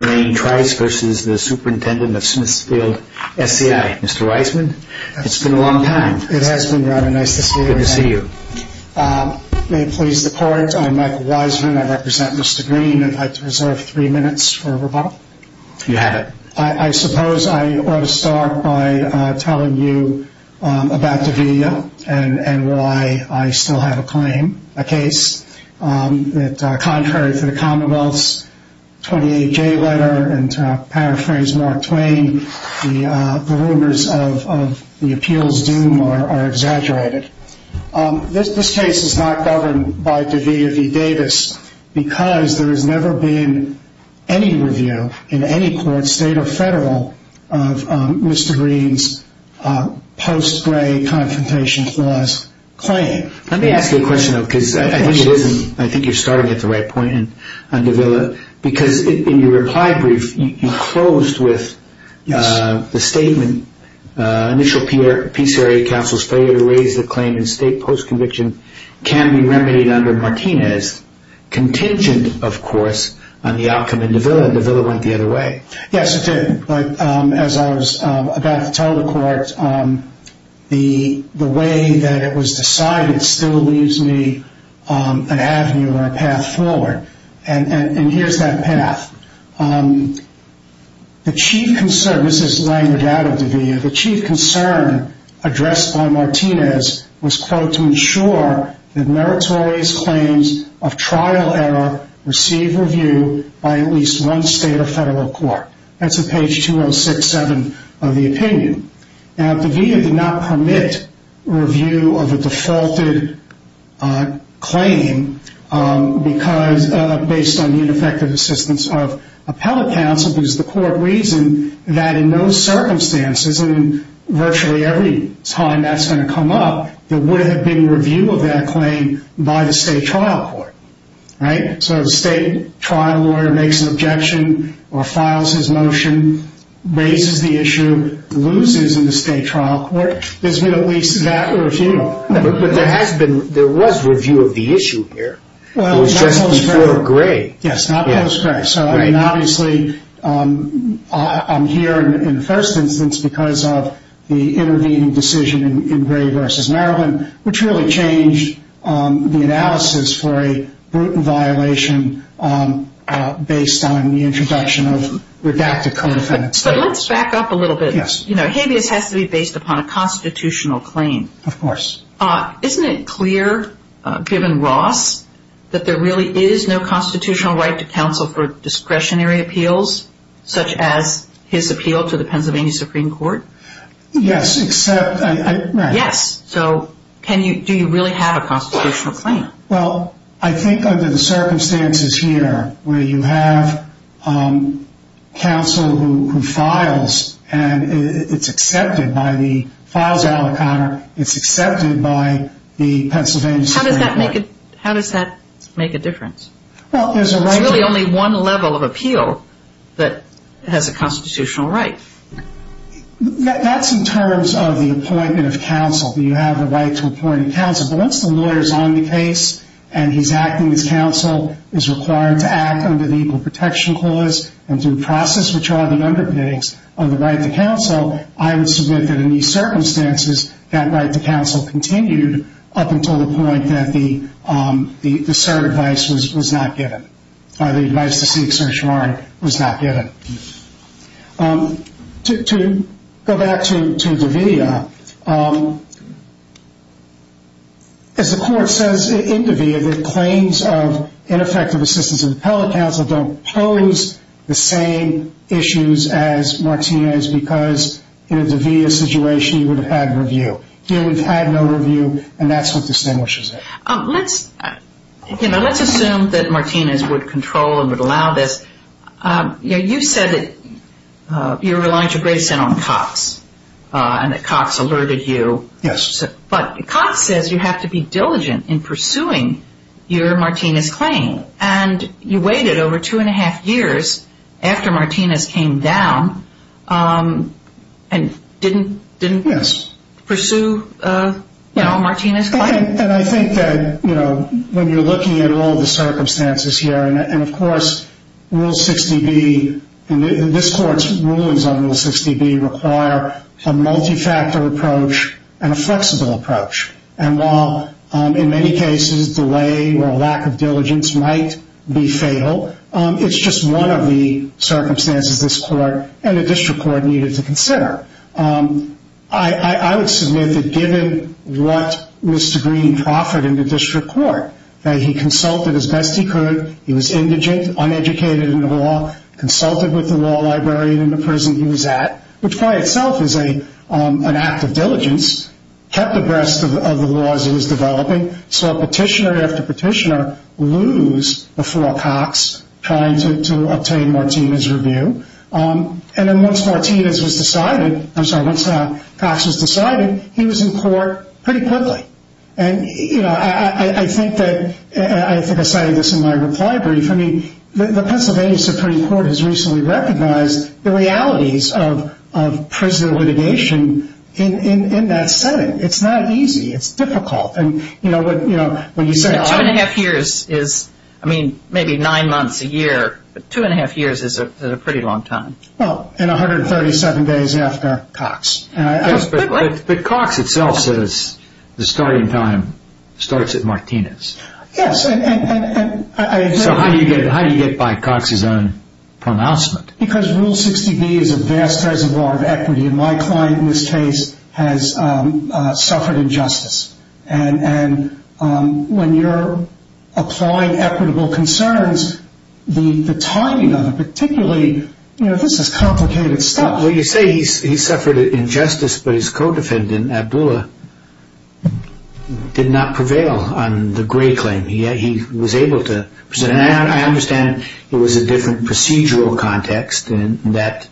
It's been a long time. It has been, Robin. Nice to see you. Nice to see you. May it please the court. I'm Michael Weisman. I represent Mr. Greene and I'd like to reserve three minutes for rebuttal. You have it. I suppose I ought to start by telling you about Davila and why I still have a claim, a case. This case is not governed by Davila v. Davis because there has never been any review in any court, state or federal, of Mr. Greene's post-Gray Confrontation Clause claim. Let me ask you a question, though, because I think you're starting at the right point on Davila. In your reply brief, you closed with the statement, initial PCRA counsel's failure to raise the claim in state post-conviction can be remedied under Martinez contingent, of course, on the outcome in Davila. Yes, it did. But as I was about to tell the court, the way that it was decided still leaves me an avenue or a path forward. And here's that path. The chief concern, this is laying the doubt of Davila, the chief concern addressed by Martinez was, quote, to ensure that meritorious claims of trial error receive review by at least one state or federal court. That's at page 206-7 of the opinion. Now, Davila did not permit review of a defaulted claim because, based on ineffective assistance of appellate counsel, because the court reasoned that in those circumstances, and virtually every time that's going to come up, there would have been review of that claim by the state trial court. So the state trial lawyer makes an objection or files his motion, raises the issue, loses in the state trial court. There's been at least that review. But there has been, there was review of the issue here. It was just before Gray. Yes, not post-Gray. So, I mean, obviously, I'm here in the first instance because of the intervening decision in Gray v. Maryland, which really changed the analysis for a Bruton violation based on the introduction of redacted co-defendant statements. But let's back up a little bit. Yes. You know, habeas has to be based upon a constitutional claim. Of course. Isn't it clear, given Ross, that there really is no constitutional right to counsel for discretionary appeals, such as his appeal to the Pennsylvania Supreme Court? Yes, except, right. Yes. So, can you, do you really have a constitutional claim? Well, I think under the circumstances here, where you have counsel who files, and it's accepted by the, files Allen Conner, it's accepted by the Pennsylvania Supreme Court. How does that make a difference? Well, there's a right to appeal. There's really only one level of appeal that has a constitutional right. That's in terms of the appointment of counsel. You have the right to appoint a counsel. But once the lawyer's on the case, and he's acting as counsel, is required to act under the Equal Protection Clause, and through process, which are the underpinnings of the right to counsel, I would submit that in these circumstances, that right to counsel continued up until the point that the cert advice was not given. The advice to seek certiorari was not given. To go back to DaVita, as the court says in DaVita that claims of ineffective assistance of the appellate counsel don't pose the same issues as Martinez because in a DaVita situation you would have had review. Here we've had no review, and that's what distinguishes it. Let's, you know, let's assume that Martinez would control and would allow this. You said that you relied to a great extent on Cox, and that Cox alerted you. Yes. But Cox says you have to be diligent in pursuing your Martinez claim, and you waited over two and a half years after Martinez came down and didn't pursue, you know, Martinez' claim. And I think that, you know, when you're looking at all the circumstances here, and of course Rule 60B, this court's rulings on Rule 60B require a multi-factor approach and a flexible approach, and while in many cases delay or lack of diligence might be fatal, it's just one of the circumstances this court and the district court needed to consider. I would submit that given what was to green profit in the district court, that he consulted as best he could, he was indigent, uneducated in the law, consulted with the law librarian in the prison he was at, which by itself is an act of diligence, kept abreast of the laws he was developing, saw petitioner after petitioner lose before Cox trying to obtain Martinez' review, and then once Martinez was decided, I'm sorry, once Cox was decided, he was in court pretty quickly. And, you know, I think that, I think I cited this in my reply brief, I mean, the Pennsylvania Supreme Court has recently recognized the realities of prison litigation in that setting. It's not easy. It's difficult. And, you know, what you said. Two and a half years is, I mean, maybe nine months, a year, but two and a half years is a pretty long time. Well, and 137 days after Cox. But Cox itself says the starting time starts at Martinez. Yes, and I agree. So how do you get by Cox's own pronouncement? Because Rule 60B is a vast reservoir of equity, and my client in this case has suffered injustice. And when you're applying equitable concerns, the timing of it, particularly, you know, this is complicated stuff. Well, you say he suffered injustice, but his co-defendant, Abdullah, did not prevail on the Gray claim. He was able to present. And I understand it was a different procedural context in that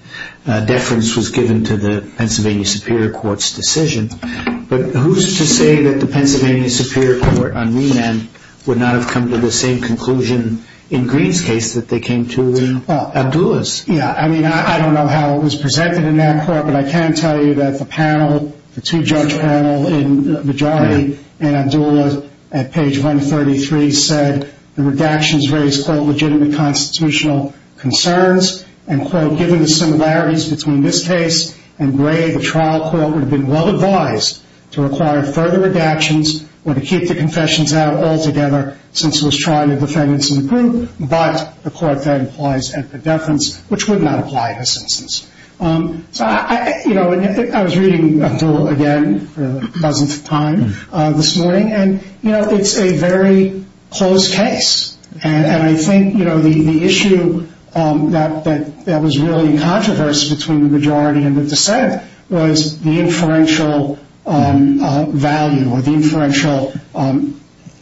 deference was given to the Pennsylvania Superior Court's decision. But who's to say that the Pennsylvania Superior Court on remand would not have come to the same conclusion in Green's case that they came to in Abdullah's? Yeah, I mean, I don't know how it was presented in that court, but I can tell you that the panel, the two-judge panel in majority in Abdullah at page 133 said the redactions raised, quote, legitimate constitutional concerns, and, quote, given the similarities between this case and Gray, the trial court would have been well-advised to require further redactions or to keep the confessions out altogether since it was trial of defendants in the group. But the court then applies equitable deference, which would not apply in this instance. So, you know, I was reading Abdullah again for the dozenth time this morning, and, you know, it's a very close case. And I think, you know, the issue that was really in controversy between the majority and the dissent was the inferential value or the inferential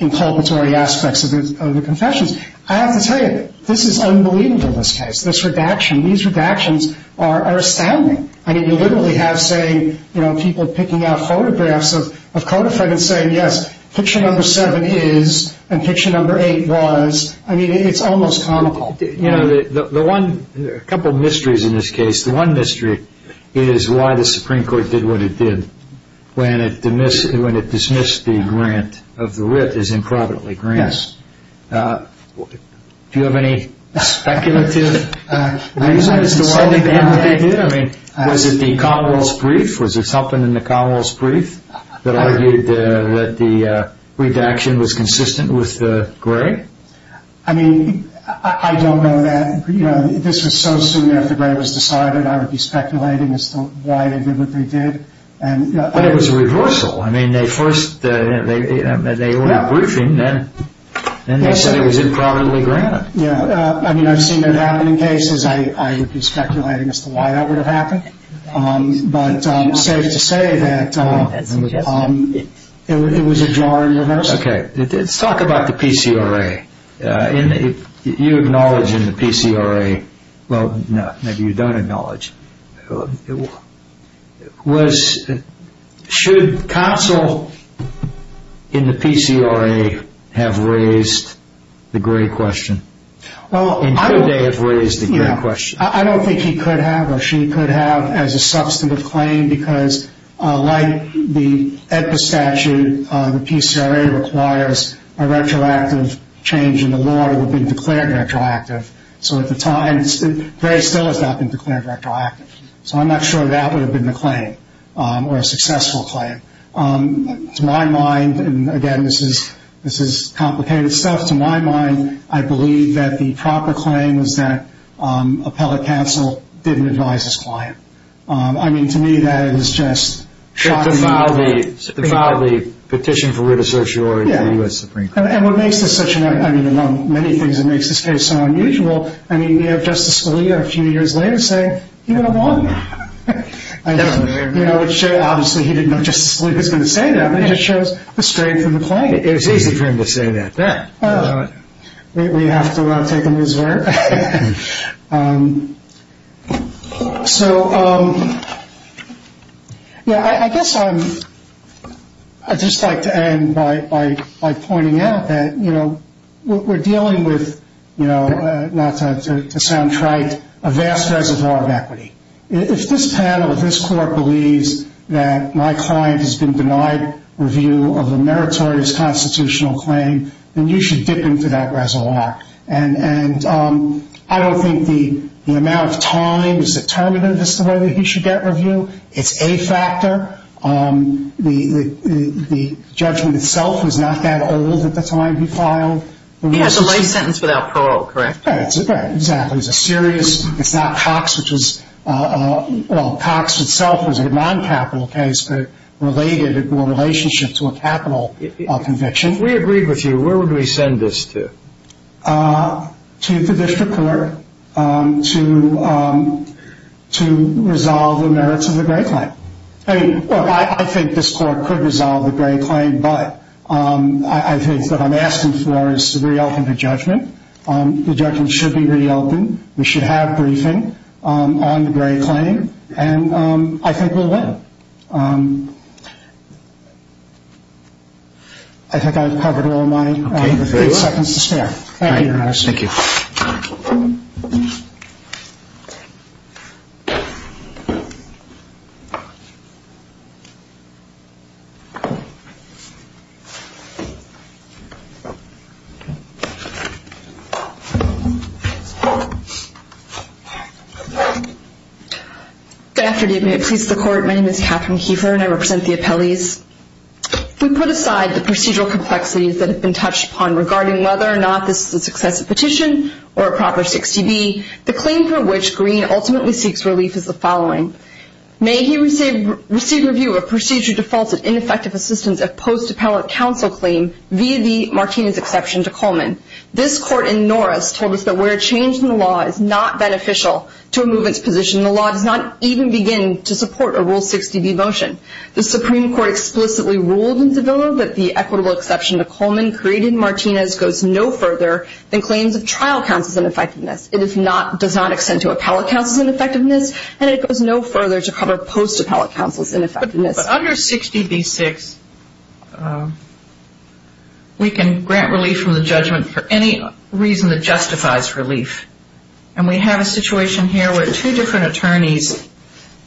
inculpatory aspects of the confessions. I have to tell you, this is unbelievable, this case, this redaction. These redactions are astounding. I mean, you literally have, say, you know, people picking out photographs of Kodafred and saying, yes, picture number seven is, and picture number eight was. I mean, it's almost comical. You know, a couple mysteries in this case. The one mystery is why the Supreme Court did what it did when it dismissed the grant of the writ as improbably granted. Yes. Do you have any speculative reasons as to why they did what they did? I mean, was it the Commonwealth's brief? That argued that the redaction was consistent with Gray? I mean, I don't know that. You know, this was so soon after Gray was decided, I would be speculating as to why they did what they did. But it was a reversal. I mean, they first, they ordered a briefing, then they said it was improbably granted. Yeah, I mean, I've seen that happen in cases. I would be speculating as to why that would have happened. But safe to say that it was a draw reversal. Okay. Let's talk about the PCRA. You acknowledge in the PCRA, well, no, maybe you don't acknowledge. Should counsel in the PCRA have raised the Gray question? And could they have raised the Gray question? I don't think he could have or she could have as a substantive claim, because like the EPA statute, the PCRA requires a retroactive change in the law to be declared retroactive. So at the time, Gray still has not been declared retroactive. So I'm not sure that would have been the claim or a successful claim. To my mind, and again, this is complicated stuff, to my mind, I believe that the proper claim was that appellate counsel didn't advise his client. I mean, to me, that is just shocking. It defiled the petition for writ of certiorari of the U.S. Supreme Court. And what makes this such an, I mean, among many things that makes this case so unusual, I mean, you have Justice Scalia a few years later saying he would have won. Obviously, he didn't know Justice Scalia was going to say that, but it just shows the strength of the claim. It's easy for him to say that. We have to take him as where? So, yeah, I guess I'd just like to end by pointing out that, you know, we're dealing with, you know, not to sound trite, a vast reservoir of equity. If this panel, if this court believes that my client has been denied review of a meritorious constitutional claim, then you should dip into that reservoir. And I don't think the amount of time is determinative as to whether he should get review. It's a factor. The judgment itself was not that old at the time he filed. He has a lay sentence without parole, correct? That's right. Exactly. It's a serious, it's not Cox, which is, well, Cox itself was a non-capital case, but related or in relationship to a capital conviction. If we agreed with you, where would we send this to? To the district court to resolve the merits of the Gray claim. I mean, look, I think this court could resolve the Gray claim, but I think what I'm asking for is to reopen the judgment. The judgment should be reopened. We should have briefing on the Gray claim, and I think we'll win. I think I've covered all my seconds to spare. Thank you, Your Honor. Thank you. Good afternoon. It pleases the Court. My name is Catherine Keefer, and I represent the appellees. We put aside the procedural complexities that have been touched upon regarding whether or not this is a successive petition or a proper 6TB. The claim for which Green ultimately seeks relief is the following. May he receive review of procedure defaults and ineffective assistance of post-appellate counsel claim via the Martinez exception to Coleman. This court in Norris told us that where a change in the law is not beneficial to a movement's position, the law does not even begin to support a Rule 6TB motion. The Supreme Court explicitly ruled in Zavillo that the equitable exception to Coleman created in Martinez goes no further than claims of trial counsel's ineffectiveness. It does not extend to appellate counsel's ineffectiveness, and it goes no further to cover post-appellate counsel's ineffectiveness. But under 6TB6, we can grant relief from the judgment for any reason that justifies relief. And we have a situation here where two different attorneys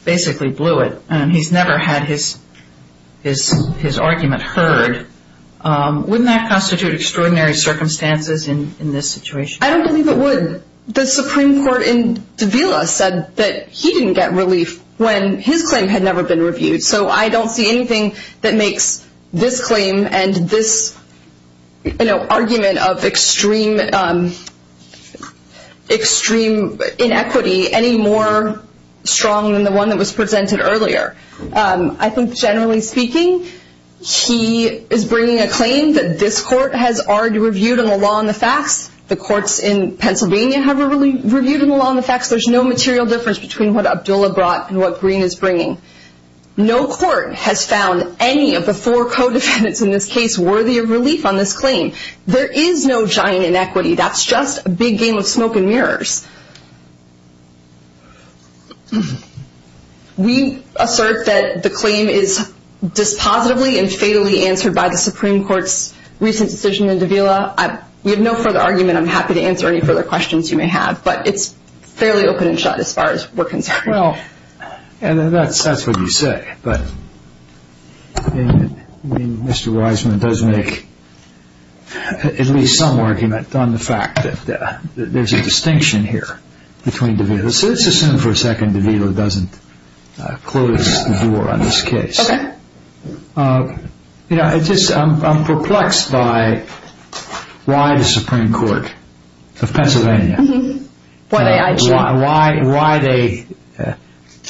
basically blew it, and he's never had his argument heard. Wouldn't that constitute extraordinary circumstances in this situation? I don't believe it would. The Supreme Court in Zavillo said that he didn't get relief when his claim had never been reviewed. So I don't see anything that makes this claim and this, you know, argument of extreme inequity any more strong than the one that was presented earlier. I think generally speaking, he is bringing a claim that this court has already reviewed on the law and the facts. The courts in Pennsylvania have already reviewed on the law and the facts. There's no material difference between what Abdullah brought and what Green is bringing. No court has found any of the four co-defendants in this case worthy of relief on this claim. There is no giant inequity. That's just a big game of smoke and mirrors. We assert that the claim is dispositively and fatally answered by the Supreme Court's recent decision in Zavillo. We have no further argument. I'm happy to answer any further questions you may have. But it's fairly open and shut as far as we're concerned. Well, that's what you say. But Mr. Wiseman does make at least some argument on the fact that there's a distinction here between Zavillo. Let's assume for a second Zavillo doesn't close the door on this case. Okay. I'm perplexed by why the Supreme Court of Pennsylvania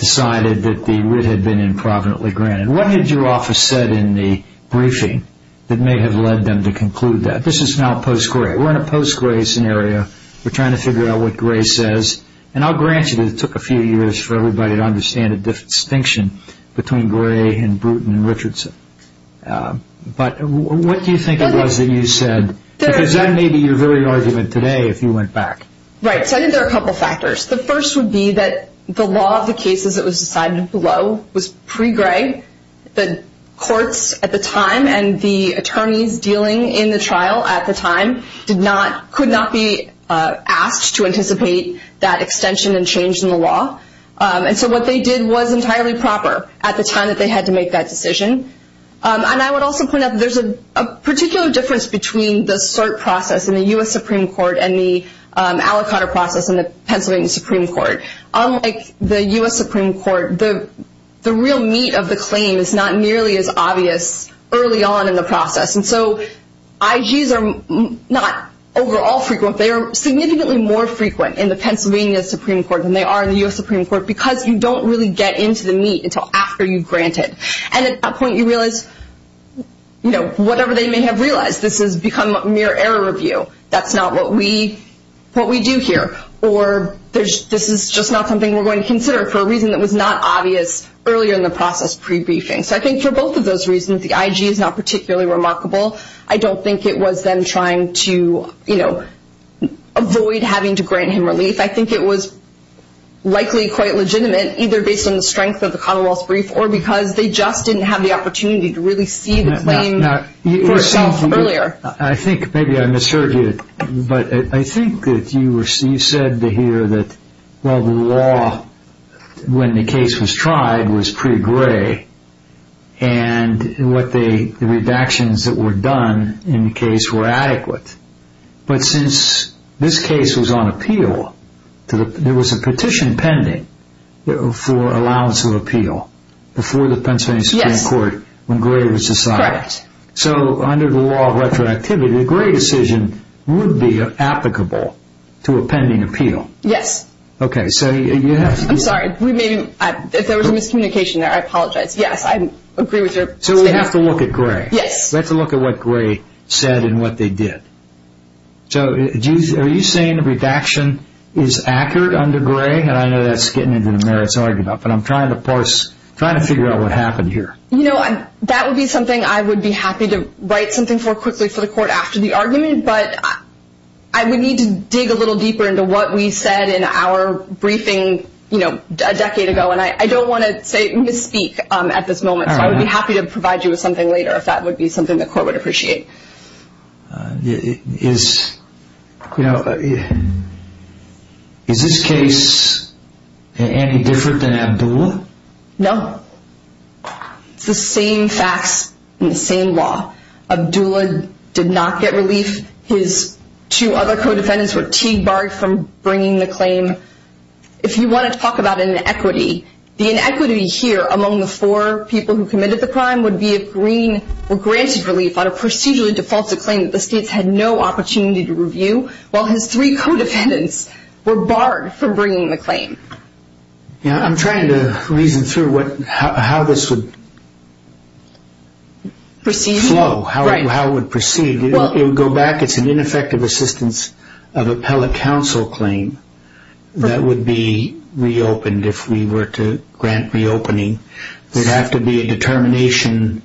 decided that the writ had been improvidently granted. What had your office said in the briefing that may have led them to conclude that? This is now post-Gray. We're in a post-Gray scenario. We're trying to figure out what Gray says. And I'll grant you that it took a few years for everybody to understand the distinction between Gray and Bruton and Richardson. But what do you think it was that you said? Because that may be your very argument today if you went back. Right. So I think there are a couple of factors. The first would be that the law of the cases that was decided below was pre-Gray. The courts at the time and the attorneys dealing in the trial at the time could not be asked to anticipate that extension and change in the law. And so what they did was entirely proper at the time that they had to make that decision. And I would also point out that there's a particular difference between the cert process in the U.S. Supreme Court and the aliquotter process in the Pennsylvania Supreme Court. Unlike the U.S. Supreme Court, the real meat of the claim is not nearly as obvious early on in the process. And so IGs are not overall frequent. They are significantly more frequent in the Pennsylvania Supreme Court than they are in the U.S. Supreme Court because you don't really get into the meat until after you grant it. And at that point you realize, you know, whatever they may have realized, this has become a mere error review. That's not what we do here. Or this is just not something we're going to consider for a reason that was not obvious earlier in the process pre-briefing. So I think for both of those reasons, the IG is not particularly remarkable. I don't think it was them trying to, you know, avoid having to grant him relief. I think it was likely quite legitimate either based on the strength of the Commonwealth's brief or because they just didn't have the opportunity to really see the claim for itself earlier. I think maybe I misheard you, but I think that you said to hear that, well, the law when the case was tried was pretty gray, and what the redactions that were done in the case were adequate. But since this case was on appeal, there was a petition pending for allowance of appeal before the Pennsylvania Supreme Court when Gray was decided. Correct. So under the law of retroactivity, the Gray decision would be applicable to a pending appeal. Yes. Okay. I'm sorry. If there was a miscommunication there, I apologize. Yes, I agree with your statement. So we have to look at Gray. Yes. We have to look at what Gray said and what they did. So are you saying the redaction is accurate under Gray? And I know that's getting into the merits argument, but I'm trying to parse, trying to figure out what happened here. You know, that would be something I would be happy to write something for quickly for the court after the argument, but I would need to dig a little deeper into what we said in our briefing a decade ago, and I don't want to misspeak at this moment, so I would be happy to provide you with something later if that would be something the court would appreciate. Is this case any different than Abdullah? No. It's the same facts and the same law. Abdullah did not get relief. His two other co-defendants were barred from bringing the claim. If you want to talk about inequity, the inequity here among the four people who committed the crime would be if Green were granted relief on a procedurally defaulted claim that the states had no opportunity to review, while his three co-defendants were barred from bringing the claim. I'm trying to reason through how this would flow, how it would proceed. It would go back. It's an ineffective assistance of appellate counsel claim that would be reopened if we were to grant reopening. There would have to be a determination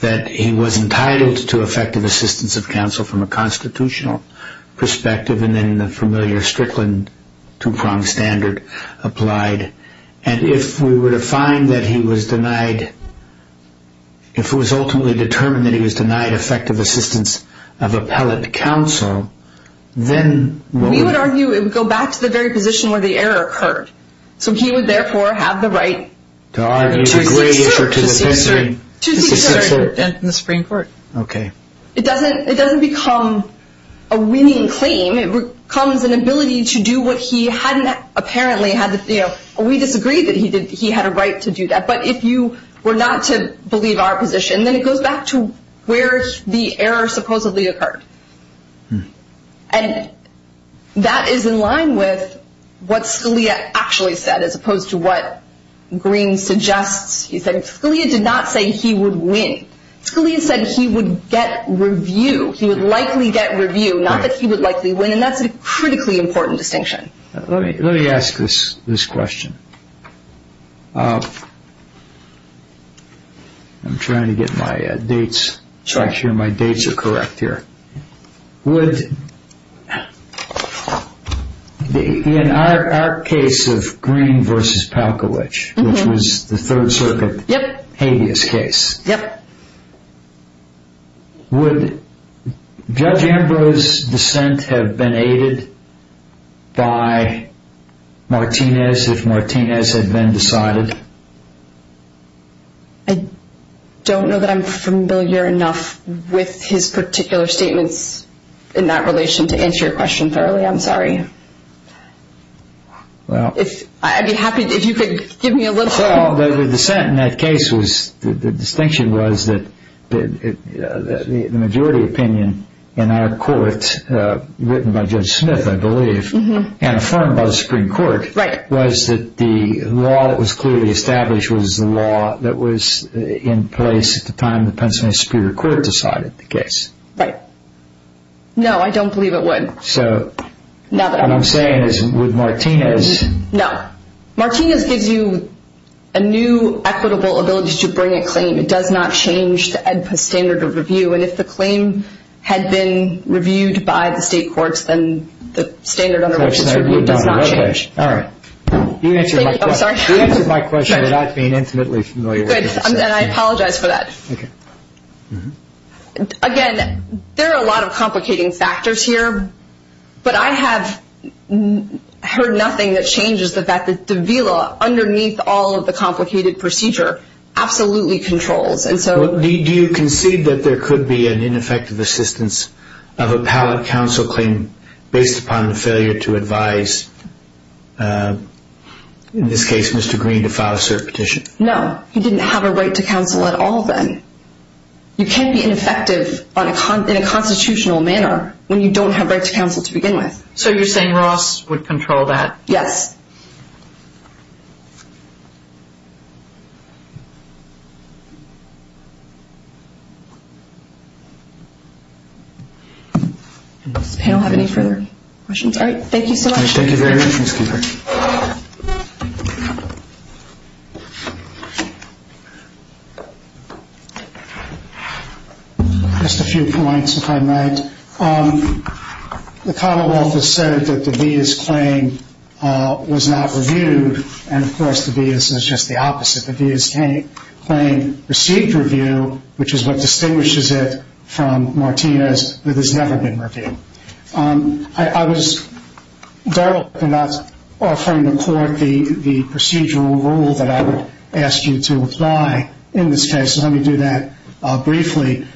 that he was entitled to effective assistance of counsel from a constitutional perspective, and then the familiar Strickland two-pronged standard applied. And if we were to find that he was denied, if it was ultimately determined that he was denied effective assistance of appellate counsel, then what would happen? We would argue it would go back to the very position where the error occurred. So he would, therefore, have the right to seek cert in the Supreme Court. Okay. It doesn't become a winning claim. It becomes an ability to do what he hadn't apparently had. We disagree that he had a right to do that. But if you were not to believe our position, then it goes back to where the error supposedly occurred. And that is in line with what Scalia actually said as opposed to what Green suggests. He said Scalia did not say he would win. Scalia said he would get review. He would likely get review, not that he would likely win, and that's a critically important distinction. Let me ask this question. I'm trying to get my dates. I'm sure my dates are correct here. In our case of Green v. Palkovich, which was the Third Circuit habeas case, would Judge Ambrose's dissent have been aided by Martinez if Martinez had been decided? I don't know that I'm familiar enough with his particular statements in that relation to answer your question thoroughly. I'm sorry. Well. I'd be happy if you could give me a little. Well, the dissent in that case was, the distinction was that the majority opinion in our court, written by Judge Smith, I believe, and affirmed by the Supreme Court, Right. was that the law that was clearly established was the law that was in place at the time the Pennsylvania Superior Court decided the case. Right. No, I don't believe it would. So. Now that I'm. What I'm saying is, would Martinez. No. Martinez gives you a new equitable ability to bring a claim. It does not change the EDPA standard of review. And if the claim had been reviewed by the state courts, then the standard under which it's reviewed does not change. All right. You answered my question. I'm sorry. You answered my question without being intimately familiar. Good. And I apologize for that. Okay. Again, there are a lot of complicating factors here. But I have heard nothing that changes the fact that the VILA, underneath all of the complicated procedure, absolutely controls. Do you concede that there could be an ineffective assistance of a pallet counsel claim based upon the failure to advise, in this case, Mr. Green to file a cert petition? No. He didn't have a right to counsel at all then. You can't be ineffective in a constitutional manner when you don't have right to counsel to begin with. So you're saying Ross would control that? Yes. Does the panel have any further questions? All right. Thank you so much. Thank you very much, Ms. Cooper. Just a few points, if I might. The commonwealth has said that the VA's claim was not reviewed. And, of course, the VA's is just the opposite. The VA's claim received review, which is what distinguishes it from Martina's that has never been reviewed. I was dull for not offering the court the procedural rule that I would ask you to apply in this case. So let me do that briefly.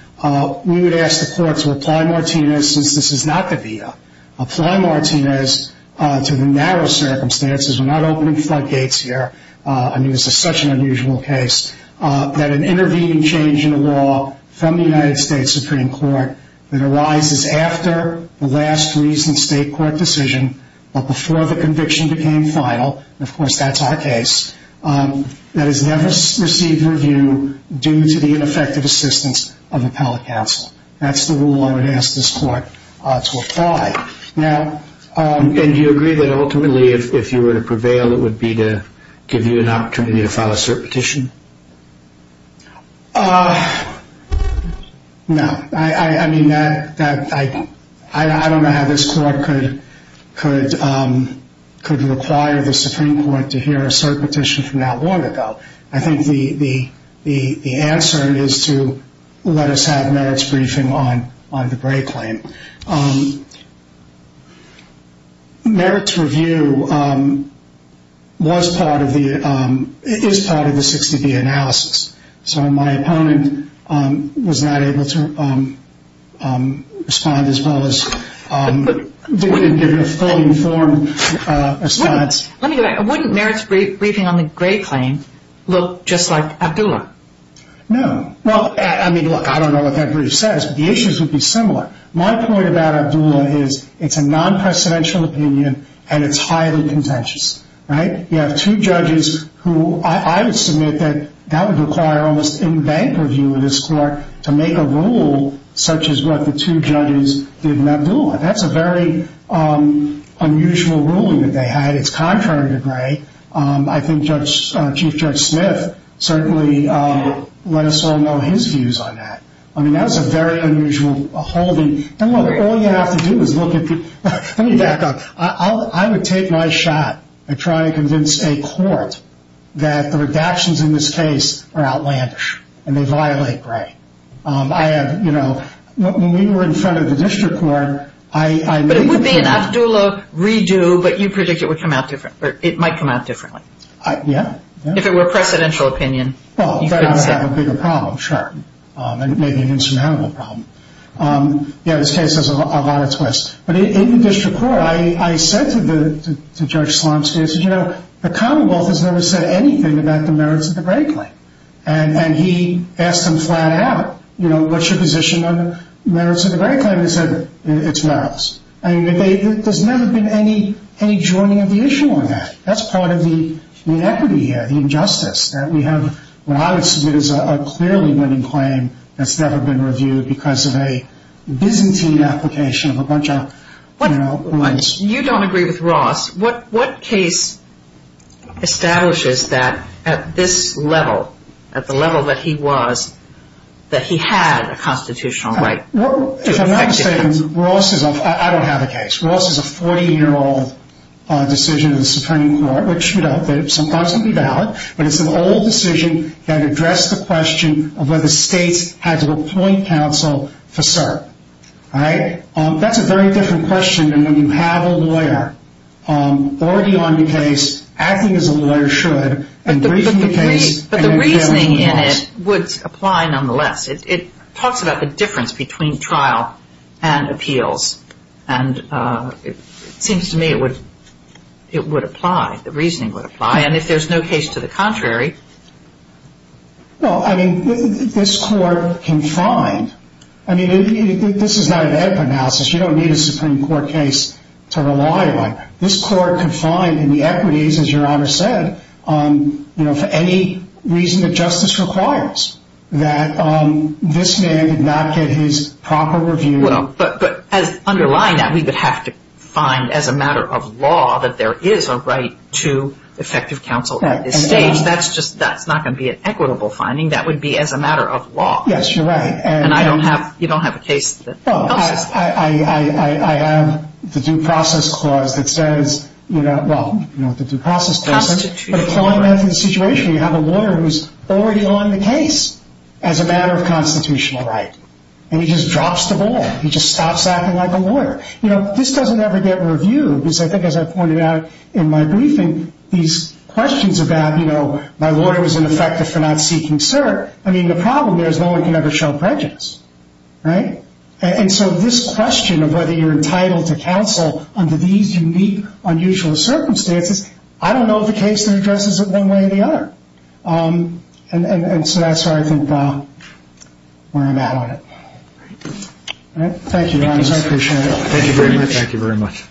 We would ask the court to apply Martina's since this is not the VA. Apply Martina's to the narrow circumstances. We're not opening floodgates here. I mean, this is such an unusual case that an intervening change in the law from the United States Supreme Court that arises after the last recent state court decision, but before the conviction became final, and, of course, that's our case, that has never received review due to the ineffective assistance of appellate counsel. That's the rule I would ask this court to apply. And do you agree that ultimately, if you were to prevail, it would be to give you an opportunity to file a cert petition? No. I mean, I don't know how this court could require the Supreme Court to hear a cert petition from that long ago. I think the answer is to let us have Merritt's briefing on the Gray claim. Merritt's review was part of the ‑‑ is part of the 60B analysis. So my opponent was not able to respond as well as give a fully informed response. Let me go back. Wouldn't Merritt's briefing on the Gray claim look just like Abdullah? No. Well, I mean, look, I don't know what that brief says, but the issues would be similar. My point about Abdullah is it's a non‑presidential opinion, and it's highly contentious, right? You have two judges who I would submit that that would require almost any bank review in this court That's a very unusual ruling that they had. It's contrary to Gray. I think Chief Judge Smith certainly let us all know his views on that. I mean, that was a very unusual holding. All you have to do is look at the ‑‑ let me back up. I would take my shot at trying to convince a court that the redactions in this case are outlandish and they violate Gray. When we were in front of the district court, I made the opinion But it would be an Abdullah redo, but you predict it might come out differently. Yeah. If it were a precedential opinion, you couldn't say. Well, that would have a bigger problem, sure. And it may be an insurmountable problem. Yeah, this case has a lot of twists. But in the district court, I said to Judge Slomsky, I said, you know, the commonwealth has never said anything about the merits of the Gray claim. And he asked them flat out, you know, what's your position on the merits of the Gray claim? They said, it's merits. I mean, there's never been any joining of the issue on that. That's part of the inequity here, the injustice that we have. What I would submit is a clearly winning claim that's never been reviewed because of a Byzantine application of a bunch of, you know, You don't agree with Ross. What case establishes that at this level, at the level that he was, that he had a constitutional right? I don't have a case. Ross is a 40-year-old decision in the Supreme Court, which sometimes would be valid. But it's an old decision that addressed the question of whether states had to appoint counsel for cert. That's a very different question than when you have a lawyer already on the case acting as a lawyer should. But the reasoning in it would apply nonetheless. It talks about the difference between trial and appeals. And it seems to me it would apply, the reasoning would apply. And if there's no case to the contrary. Well, I mean, this court can find. I mean, this is not an edible analysis. You don't need a Supreme Court case to rely on. This court can find in the equities, as Your Honor said, you know, for any reason that justice requires. That this man did not get his proper review. But as underlying that, we would have to find as a matter of law that there is a right to effective counsel at this stage. That's just, that's not going to be an equitable finding. That would be as a matter of law. Yes, you're right. And I don't have, you don't have a case. Well, I have the due process clause that says, you know, well, you know, the due process clause. But applying that to the situation, you have a lawyer who's already on the case as a matter of constitutional right. And he just drops the ball. He just stops acting like a lawyer. You know, this doesn't ever get reviewed. Because I think as I pointed out in my briefing, these questions about, you know, my lawyer was ineffective for not seeking cert. I mean, the problem there is no one can ever show prejudice. Right? And so this question of whether you're entitled to counsel under these unique, unusual circumstances, I don't know if the case addresses it one way or the other. And so that's where I think, where I'm at on it. Thank you, Your Honor. I appreciate it. Thank you very much. Thank you very much.